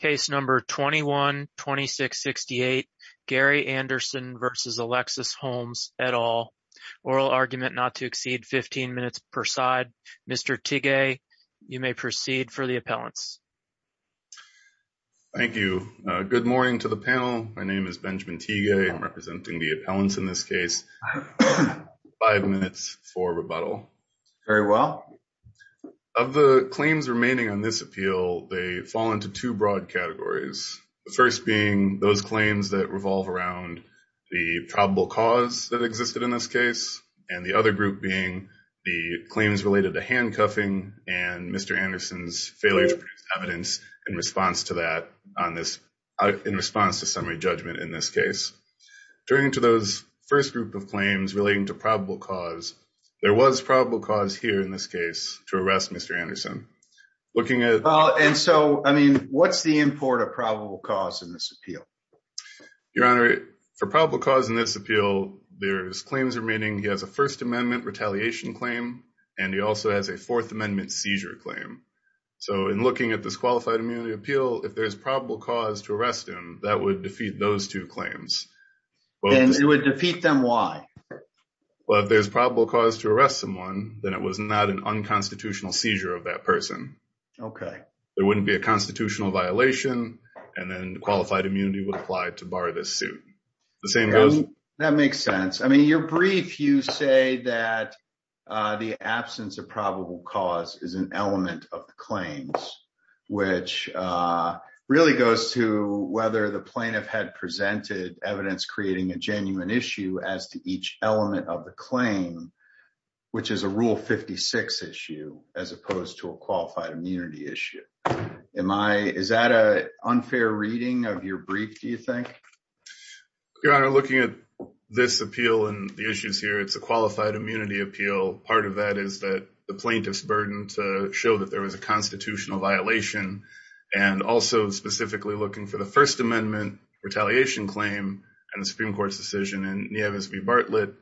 Case No. 21-2668 Gary Anderson v. Alexis Holmes, et al. Oral argument not to exceed 15 minutes per side. Mr. Teague, you may proceed for the appellants. Thank you. Good morning to the panel. My name is Benjamin Teague. I'm representing the appellants in this case. Five minutes for rebuttal. Very well. Of the claims remaining on this appeal, they fall into two broad categories. The first being those claims that revolve around the probable cause that existed in this case, and the other group being the claims related to handcuffing and Mr. Anderson's failure to produce evidence in response to that on this, in response to summary judgment in this case. Turning to those first group of claims relating to probable cause, there was probable cause here in this case to arrest Mr. Anderson. Looking at... And so, I mean, what's the import of probable cause in this appeal? Your Honor, for probable cause in this appeal, there's claims remaining. He has a First Amendment retaliation claim, and he also has a Fourth Amendment seizure claim. So in looking at this qualified immunity appeal, if there's probable cause to arrest him, that would defeat those two claims. And it would defeat them why? Well, if there's probable cause to arrest someone, then it was not an unconstitutional seizure of that person. Okay. There wouldn't be a constitutional violation, and then qualified immunity would apply to bar this suit. The same goes... That makes sense. I mean, your brief, you say that the absence of probable cause is an element of the claims, which really goes to whether the plaintiff had presented evidence creating a genuine issue as to each element of the claim, which is a Rule 56 issue as opposed to a qualified immunity issue. Is that an unfair reading of your brief, do you think? Your Honor, looking at this appeal and the issues here, it's a qualified immunity appeal. Part of that is that the plaintiff's burden to show that there was a constitutional violation, and also specifically looking for the First Amendment retaliation claim and the Supreme Court's decision in Nieves v. Bartlett,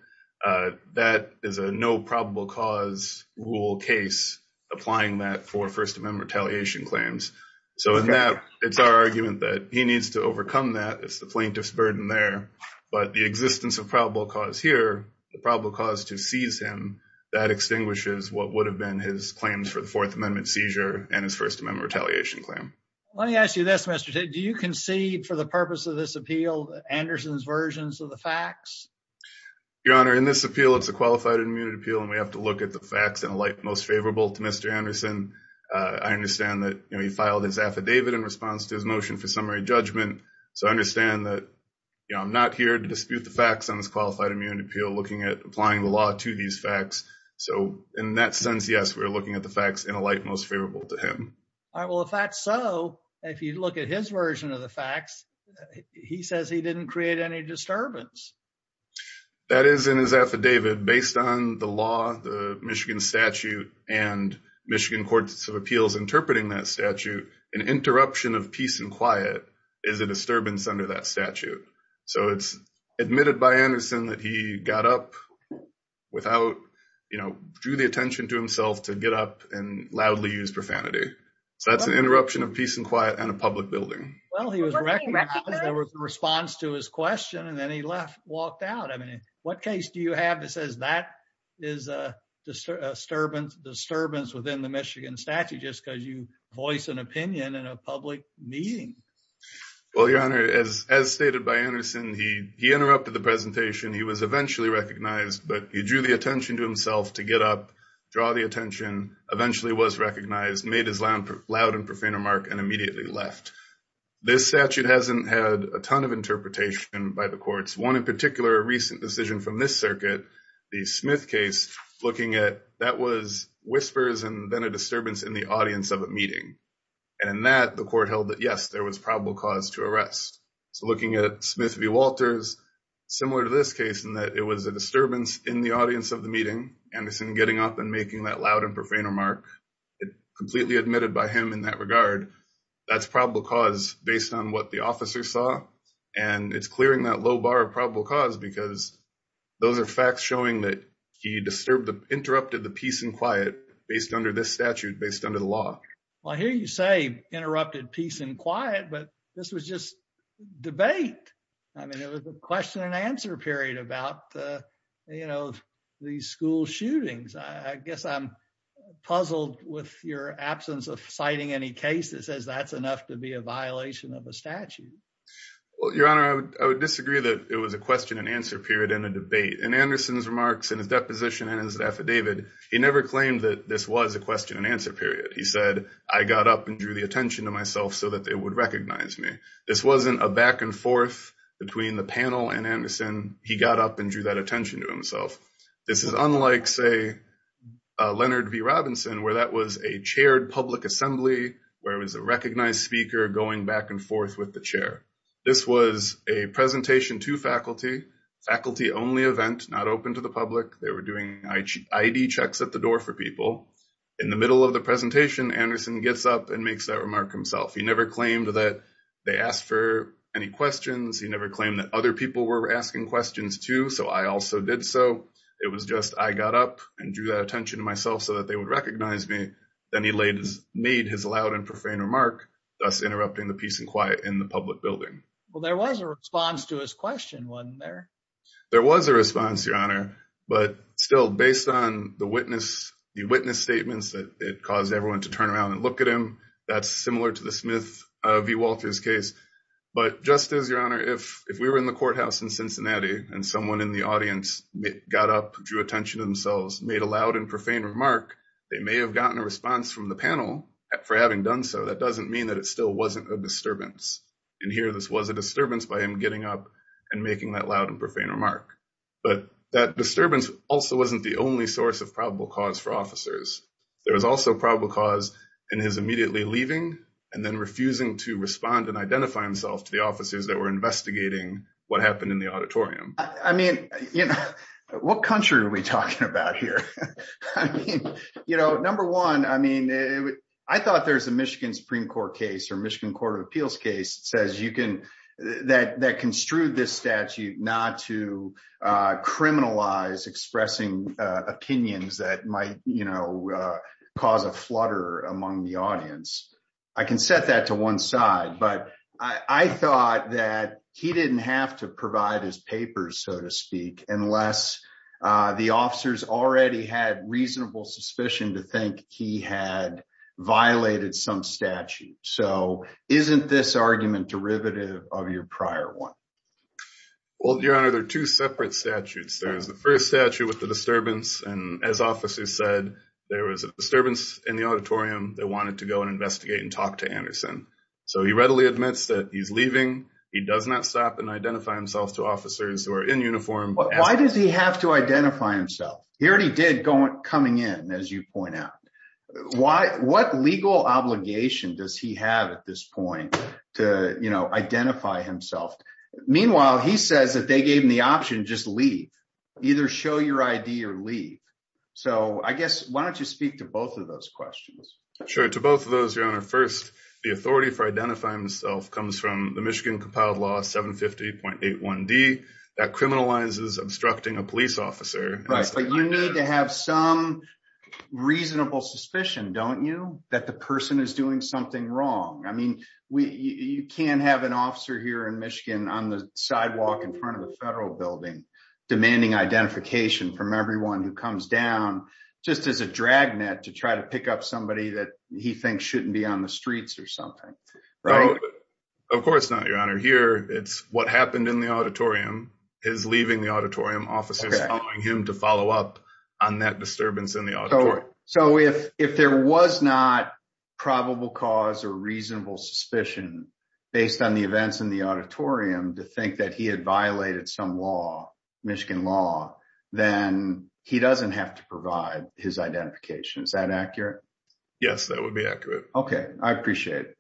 that is a no probable cause rule case, applying that for First Amendment retaliation claims. So in that, it's our argument that he needs to overcome that. It's the plaintiff's burden there. But the existence of probable cause here, the probable cause to seize him, that extinguishes what would have been his claims for the Fourth Amendment seizure and his First Amendment retaliation claim. Let me ask you this, Mr. Tate. Do you concede for the purpose of this appeal, Anderson's versions of the facts? Your Honor, in this appeal, it's a qualified immunity appeal, and we have to look at the facts in a light most favorable to Mr. Anderson. I understand that he filed his affidavit in response to his motion for summary judgment. So I understand that I'm not here to dispute the facts on this qualified immunity appeal, looking at applying the law to these facts. So in that sense, yes, we're looking at the facts in a light most favorable to him. All right. Well, if that's so, if you look at his version of the facts, he says he didn't create any disturbance. That is in his affidavit. Based on the law, the Michigan statute, and Michigan Courts of Appeals interpreting that statute, an interruption of peace and quiet is a disturbance under that statute. So it's admitted by Anderson that he got up without, you know, drew the attention, so that's an interruption of peace and quiet and a public building. Well, he was recognized, there was a response to his question, and then he left, walked out. I mean, what case do you have that says that is a disturbance within the Michigan statute just because you voice an opinion in a public meeting? Well, Your Honor, as stated by Anderson, he interrupted the presentation, he was eventually recognized, but he drew the attention to himself to get up, draw the attention, eventually was recognized, made his loud and profane remark, and immediately left. This statute hasn't had a ton of interpretation by the courts. One in particular, a recent decision from this circuit, the Smith case, looking at that was whispers and then a disturbance in the audience of a meeting. And in that, the court held that, yes, there was probable cause to arrest. So looking at Smith v. Walters, similar to this case in that it was a disturbance in the audience of the meeting, Anderson getting up and making that loud and profane remark, it completely admitted by him in that regard, that's probable cause based on what the officer saw. And it's clearing that low bar of probable cause because those are facts showing that he interrupted the peace and quiet based under this statute, based under the law. Well, I hear you say interrupted peace and quiet, but this was just debate. I mean, it was a question and answer period about the school shootings. I guess I'm puzzled with your absence of citing any case that says that's enough to be a violation of a statute. Well, Your Honor, I would disagree that it was a question and answer period in a debate. In Anderson's remarks and his deposition and his affidavit, he never claimed that this was a question and answer period. He said, I got up and drew the attention to myself so that they would recognize me. This wasn't a back and forth between the panel and Anderson. He got up and drew that attention to himself. This is unlike, say, Leonard V. Robinson, where that was a chaired public assembly, where it was a recognized speaker going back and forth with the chair. This was a presentation to faculty, faculty only event, not open to the public. They were doing ID checks at the door for people. In the middle of the presentation, Anderson gets up and makes that remark himself. He never claimed that they asked for any questions. He never claimed that other people were asking questions, too. So I also did so. It was just I got up and drew that attention to myself so that they would recognize me. Then he made his loud and profane remark, thus interrupting the peace and quiet in the public building. Well, there was a response to his question, wasn't there? There was a response, Your Honor. But still, based on the witness statements that it caused everyone to turn around and look at him, that's similar to the Smith v. Walters case. But just as, Your Honor, if we were in the courthouse in Cincinnati and someone in the audience got up, drew attention to themselves, made a loud and profane remark, they may have gotten a response from the panel for having done so. That doesn't mean that it still wasn't a disturbance. In here, this was a disturbance by him getting up and making that loud and profane remark. But that disturbance also wasn't the only source of probable cause for his immediately leaving and then refusing to respond and identify himself to the officers that were investigating what happened in the auditorium. I mean, you know, what country are we talking about here? I mean, you know, number one, I mean, I thought there's a Michigan Supreme Court case or Michigan Court of Appeals case says you can that construed this statute not to criminalize expressing opinions that might, you know, cause a flutter among the audience. I can set that to one side. But I thought that he didn't have to provide his papers, so to speak, unless the officers already had reasonable suspicion to think he had violated some statute. So isn't this argument derivative of your prior one? Well, Your Honor, there are two separate statutes. There's the first statute with the there was a disturbance in the auditorium. They wanted to go and investigate and talk to Anderson. So he readily admits that he's leaving. He does not stop and identify himself to officers who are in uniform. Why does he have to identify himself? He already did coming in, as you point out. What legal obligation does he have at this point to, you know, identify himself? Meanwhile, he says that they gave him the option to just leave, either show your ID or leave. So I guess why don't you speak to both of those questions? Sure. To both of those, Your Honor. First, the authority for identifying himself comes from the Michigan Compiled Law 750.81d that criminalizes obstructing a police officer. Right. But you need to have some reasonable suspicion, don't you, that the person is doing something wrong. I mean, you can't have an officer here in Michigan on the sidewalk in everyone who comes down just as a dragnet to try to pick up somebody that he thinks shouldn't be on the streets or something. Of course not, Your Honor. Here, it's what happened in the auditorium, his leaving the auditorium, officers telling him to follow up on that disturbance in the auditorium. So if there was not probable cause or reasonable suspicion based on the events in the auditorium to think that he had violated some Michigan law, then he doesn't have to provide his identification. Is that accurate? Yes, that would be accurate. Okay. I appreciate it.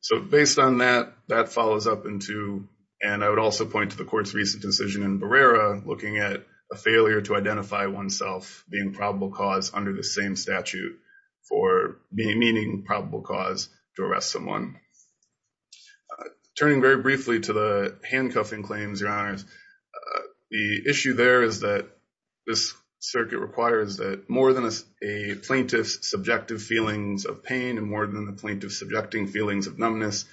So based on that, that follows up into, and I would also point to the court's recent decision in Barrera looking at a failure to identify oneself being probable cause under the same statute for meaning probable cause to arrest someone. Turning very briefly to the handcuffing claims, Your Honors, the issue there is that this circuit requires that more than a plaintiff's subjective feelings of pain and more than the plaintiff's subjecting feelings of numbness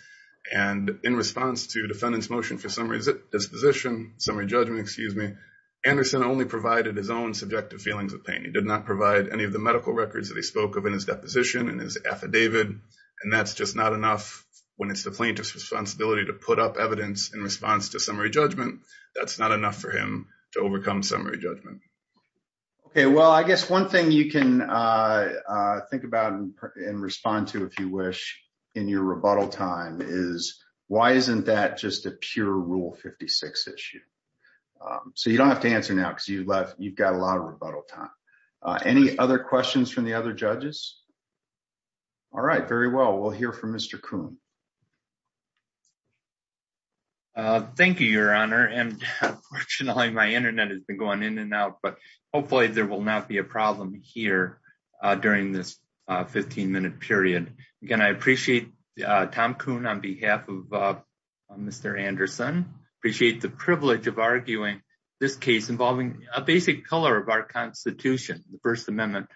and in response to defendant's motion for summary disposition, summary judgment, excuse me, Anderson only provided his own subjective feelings of pain. He did not provide any of the medical records that he spoke of in his deposition and his affidavit. And that's just not enough when it's the plaintiff's responsibility to put up evidence in response to summary judgment. That's not enough for him to overcome summary judgment. Okay. Well, I guess one thing you can think about and respond to if you wish in your rebuttal time is why isn't that just a pure Rule 56 issue? So you don't have to answer now because you've got a lot of rebuttal time. Any other questions from the other judges? All right. Very well. We'll hear from Mr. Kuhn. Thank you, Your Honor. And fortunately, my internet has been going in and out, but hopefully there will not be a problem here during this 15-minute period. Again, I appreciate Tom Kuhn on behalf of Mr. Anderson. Appreciate the privilege of arguing this case involving a basic color of our Constitution, the First Amendment,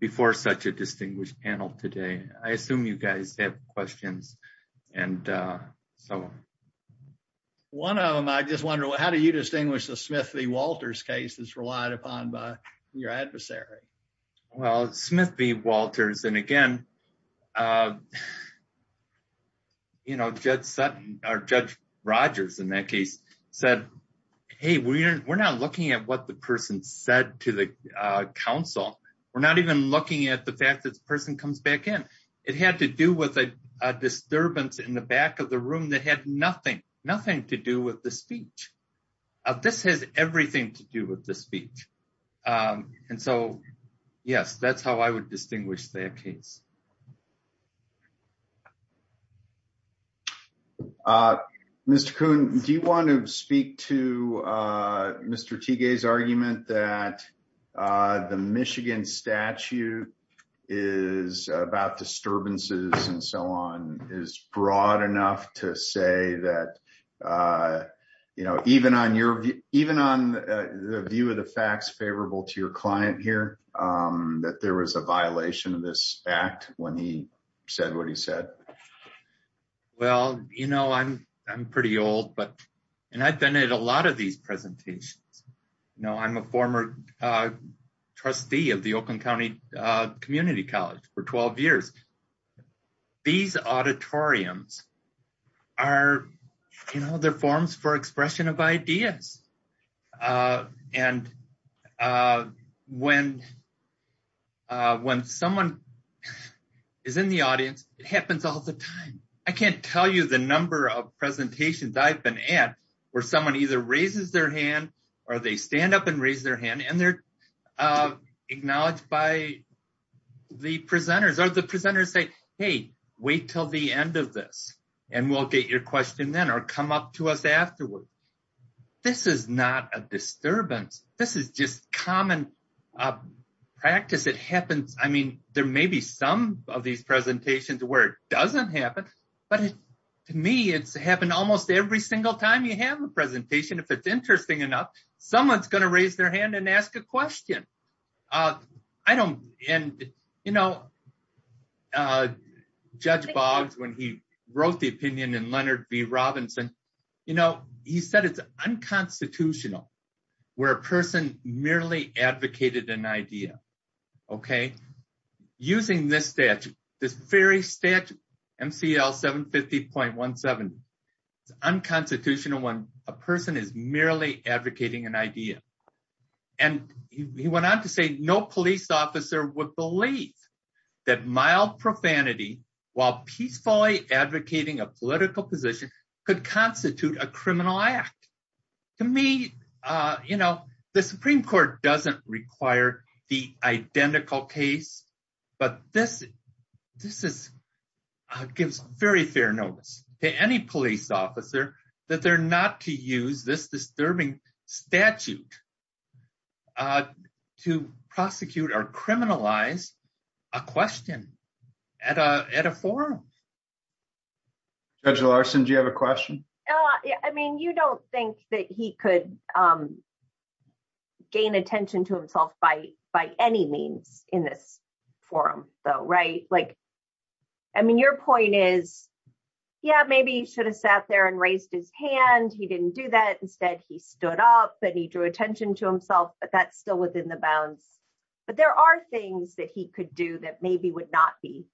before such a distinguished panel today. I assume you guys have questions and so on. One of them, I just wonder, how do you distinguish the Smith v. Walters case that's relied upon by your adversary? Well, Smith v. Walters, and again, you know, Judge Sutton or Judge Rogers in that case said, hey, we're not looking at what the person said to the counsel. We're not even looking at the fact that the person comes back in. It had to do with a disturbance in the back of the room that had nothing to do with the speech. This has everything to do with the speech. And so, yes, that's how I would distinguish that case. Mr. Kuhn, do you want to speak to Mr. Teague's argument that the Michigan statute is about disturbances and so on is broad enough to say that, you know, even on your view, even on the view of the facts favorable to your client here, that there was a violation of this act when he said what he said? Well, you know, I'm pretty old, and I've been at a lot of these presentations. You know, I'm a former trustee of the Oakland County Community College for 12 years. These auditoriums are, you know, they're forums for expression of ideas. And when someone is in the audience, it happens all the time. I can't tell you the number of presentations I've been at where someone either raises their hand or they stand up and raise their hand and they're the presenters or the presenters say, hey, wait till the end of this and we'll get your question then or come up to us afterward. This is not a disturbance. This is just common practice. It happens. I mean, there may be some of these presentations where it doesn't happen. But to me, it's happened almost every single time you have a presentation. If it's interesting enough, someone's going to raise their hand and ask a question. And, you know, Judge Boggs, when he wrote the opinion in Leonard B. Robinson, you know, he said it's unconstitutional where a person merely advocated an idea. Okay. Using this statute, this very statute, MCL 750.170, it's unconstitutional when a person is merely advocating an idea. And he went on to say no police officer would believe that mild profanity while peacefully advocating a political position could constitute a criminal act. To me, you know, the Supreme Court doesn't require the identical case. But this gives very fair notice to any police officer that they're not to use this disturbing statute to prosecute or criminalize a question at a forum. Judge Larson, do you have a question? I mean, you don't think that he could gain attention to himself by any means in this forum, though, right? Like, I mean, your point is, yeah, maybe he should have sat there and raised his hand. He didn't do that. Instead, he stood up and he drew attention to himself. But that's still within the bounds. But there are things that he could do that maybe would not be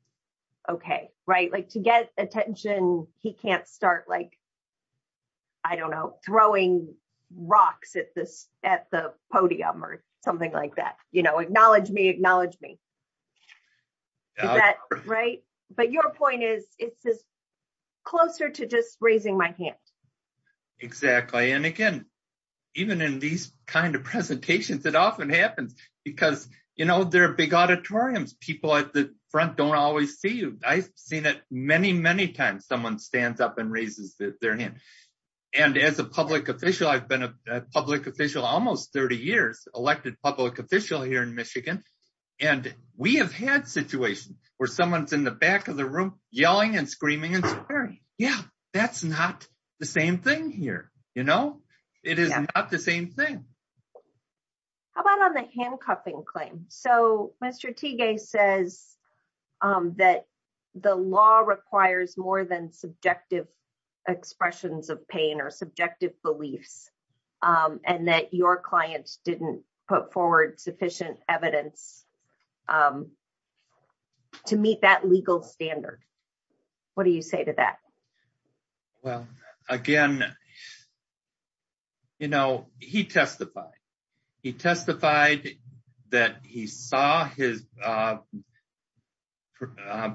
okay, right? Like to get attention, he can't start, like, I don't know, throwing rocks at the podium or something like that. You know, acknowledge me, acknowledge me. Is that right? But your point is, it's closer to just raising my hand. Exactly. And again, even in these kind of presentations, it often happens because, you know, there are big auditoriums, people at the front don't always see you. I've seen it many, many times, someone stands up and raises their hand. And as a public official, I've been a public official almost 30 years, elected public official here in Michigan. And we have had situations where someone's in the back of the room, yelling and screaming and swearing. Yeah, that's not the same thing here. You know, it is not the same thing. How about on the handcuffing claim? So, Mr. Teague says that the law requires more than subjective expressions of pain or subjective beliefs, and that your clients didn't put forward sufficient evidence to meet that legal standard. What do you say to that? Well, again, you know, he testified. He testified that he saw his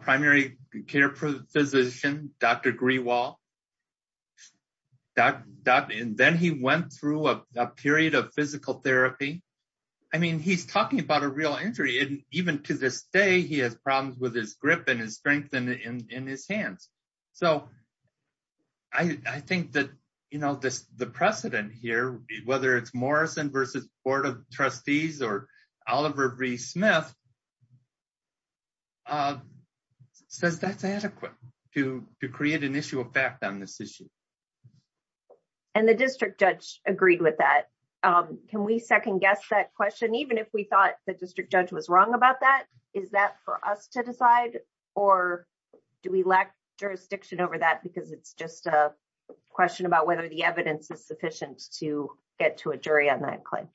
primary care physician, Dr. Grewal. And then he went through a period of physical therapy. I mean, he's talking about a real injury. And even to this day, he has problems with his grip and his strength in his hands. So, I think that, you know, the precedent here, whether it's Morrison versus Board of Trustees or Oliver B. Smith, says that's adequate to create an issue of fact on this issue. And the district judge agreed with that. Can we second guess that question, even if we thought the district judge was wrong about that? Is that for us to decide? Or do we lack jurisdiction over that? Because it's just a question about whether the evidence is sufficient to get to a jury on that claim.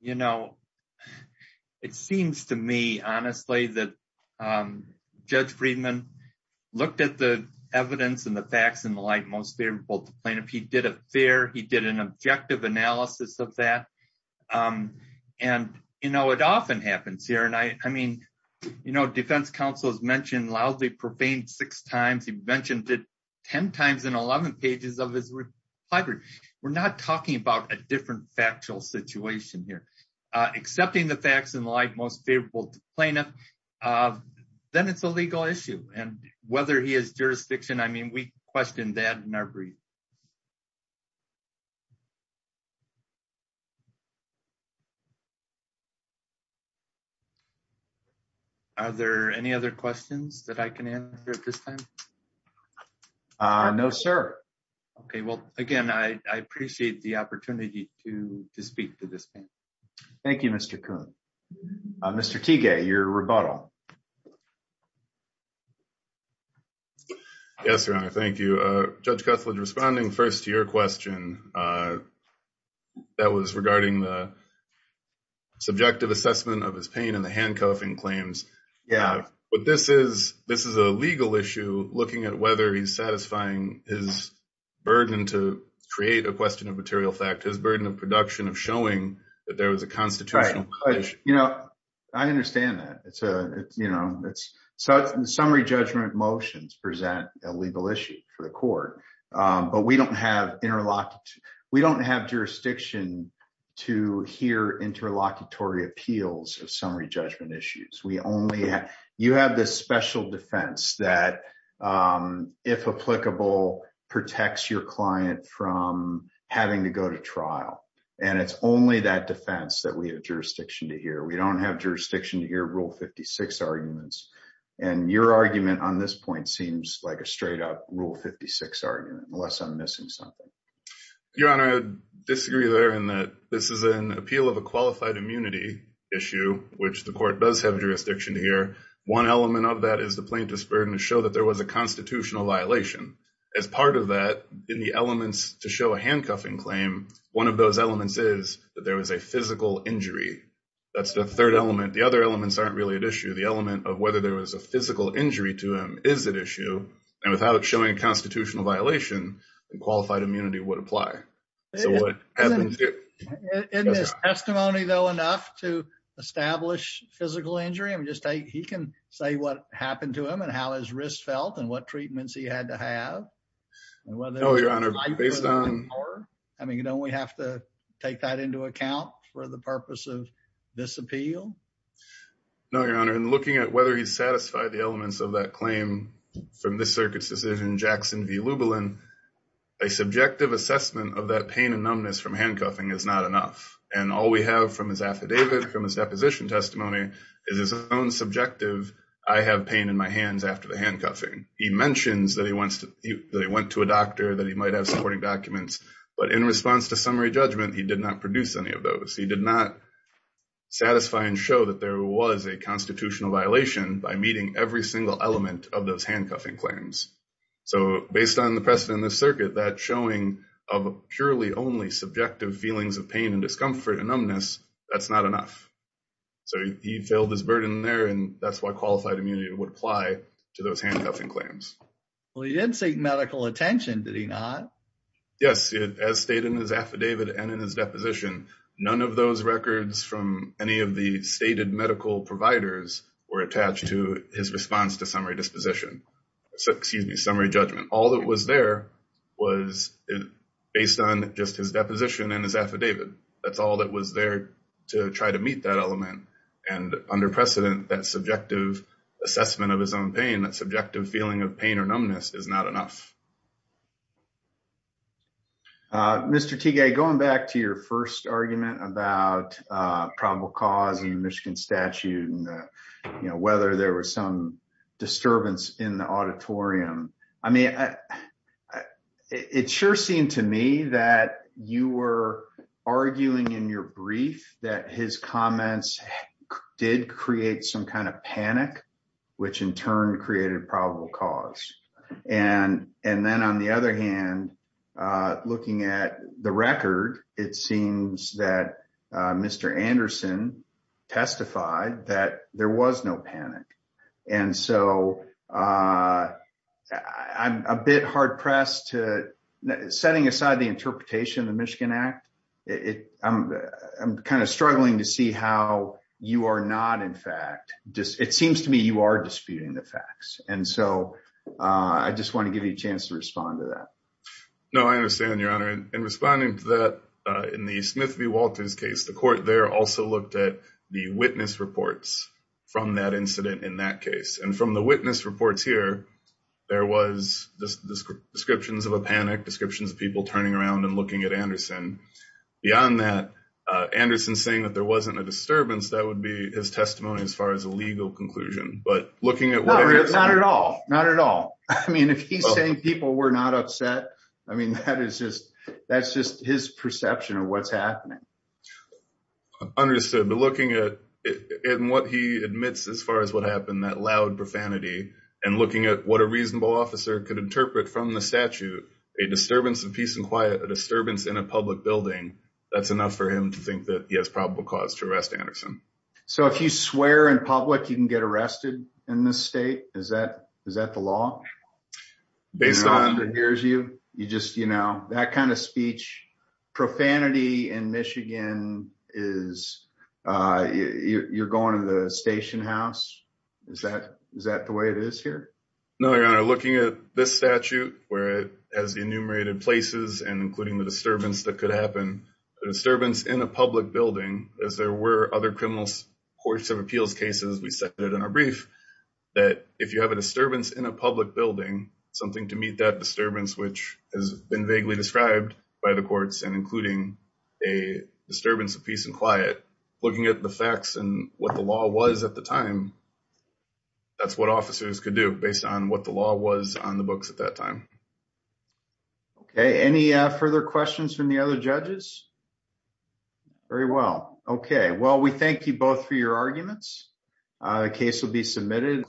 You know, it seems to me, honestly, that Judge Friedman looked at the evidence and the facts in the light most favorable to plaintiff. He did a fair, he did an objective analysis of that. And, you know, it often happens here. And I mean, you know, defense counsel has mentioned loudly profaned six times, he mentioned it 10 times in 11 pages of his reply brief. We're not talking about a different factual situation here. Accepting the facts in the light most favorable to plaintiff, then it's a legal issue. And whether he has jurisdiction, I mean, we question that in our brief. Are there any other questions that I can answer at this time? No, sir. Okay. Well, again, I appreciate the opportunity to speak to this panel. Thank you, Mr. Coon. Mr. Teague, your rebuttal. Yes, Your Honor. Thank you. Judge Cuthled, responding first to your question that was regarding the subjective assessment of his pain and the handcuffing claims. Yeah. But this is, this is a legal issue, looking at whether he's satisfying his burden to create a question of material fact, his burden of production of showing that there was a constitutional issue. You know, I understand that. It's a, you know, it's summary judgment motions present a legal issue for the court. But we don't have interlocked, we don't have jurisdiction to hear interlocutory appeals of summary judgment issues. We only have, you have this special defense that, if applicable, protects your client from having to go to trial. And it's only that defense that we have jurisdiction to hear Rule 56 arguments. And your argument on this point seems like a straight up Rule 56 argument, unless I'm missing something. Your Honor, I disagree there in that this is an appeal of a qualified immunity issue, which the court does have jurisdiction to hear. One element of that is the plaintiff's burden to show that there was a constitutional violation. As part of that, in the elements to show a handcuffing claim, one of those elements is that there was a physical injury. That's the third element. The other elements aren't really at issue. The element of whether there was a physical injury to him is at issue. And without showing a constitutional violation, qualified immunity would apply. So what happened here? In this testimony, though, enough to establish physical injury, I mean, just take, he can say what happened to him and how his wrist felt and what treatments he had to have. No, Your Honor. Based on... I mean, don't we have to take that into account for the purpose of this appeal? No, Your Honor. In looking at whether he's satisfied the elements of that claim from this circuit's decision, Jackson v. Lubelin, a subjective assessment of that pain and numbness from handcuffing is not enough. And all we have from his affidavit, from his deposition testimony, is his own subjective, I have pain in my hands after the handcuffing. He mentions that he wants that he went to a doctor, that he might have supporting documents. But in response to summary judgment, he did not produce any of those. He did not satisfy and show that there was a constitutional violation by meeting every single element of those handcuffing claims. So based on the precedent in this circuit, that showing of purely only subjective feelings of pain and discomfort and numbness, that's not enough. So he filled his burden there, and that's why qualified immunity would apply to those handcuffing claims. Well, he did seek medical attention, did he not? Yes. As stated in his affidavit and in his deposition, none of those records from any of the stated medical providers were attached to his response to summary disposition. Excuse me, summary judgment. All that was there was based on just his deposition and his affidavit. That's all that was there to try to meet that element. And under precedent, that subjective assessment of pain, that subjective feeling of pain or numbness is not enough. Mr. Tigay, going back to your first argument about probable cause in the Michigan statute, whether there was some disturbance in the auditorium. I mean, it sure seemed to me that you were arguing in your brief that his comments did create some kind of panic, which in turn created probable cause. And then on the other hand, looking at the record, it seems that Mr. Anderson testified that there was no panic. And so I'm a bit hard-pressed to setting aside the interpretation of the Michigan Act. I'm kind of struggling to see how you are not in fact, it seems to me you are disputing the facts. And so I just want to give you a chance to respond to that. No, I understand, Your Honor. And responding to that, in the Smith v. Walters case, the court there also looked at the witness reports from that incident in that case. And from witness reports here, there were descriptions of a panic, descriptions of people turning around and looking at Mr. Anderson. Beyond that, Mr. Anderson saying that there wasn't a disturbance, that would be his testimony as far as a legal conclusion. No, not at all. Not at all. I mean, if he's saying people were not upset, I mean, that's just his perception of what's happening. Understood. But looking at what he admits as far as what happened, that loud profanity, and looking at what a reasonable officer could interpret from the statute, a disturbance of peace and quiet, a disturbance in a public building, that's enough for him to think that he has probable cause to arrest Anderson. So if you swear in public, you can get arrested in this state? Is that the law? Based on- Is you're going to the station house? Is that the way it is here? No, Your Honor. Looking at this statute, where it has the enumerated places and including the disturbance that could happen, a disturbance in a public building, as there were other criminal courts of appeals cases we cited in our brief, that if you have a disturbance in a public building, something to meet that disturbance, which has been vaguely described by the courts and including a disturbance of peace and quiet, looking at the facts and what the law was at the time, that's what officers could do based on what the law was on the books at that time. Okay. Any further questions from the other judges? Very well. Okay. Well, we thank you both for your arguments. The case will be submitted.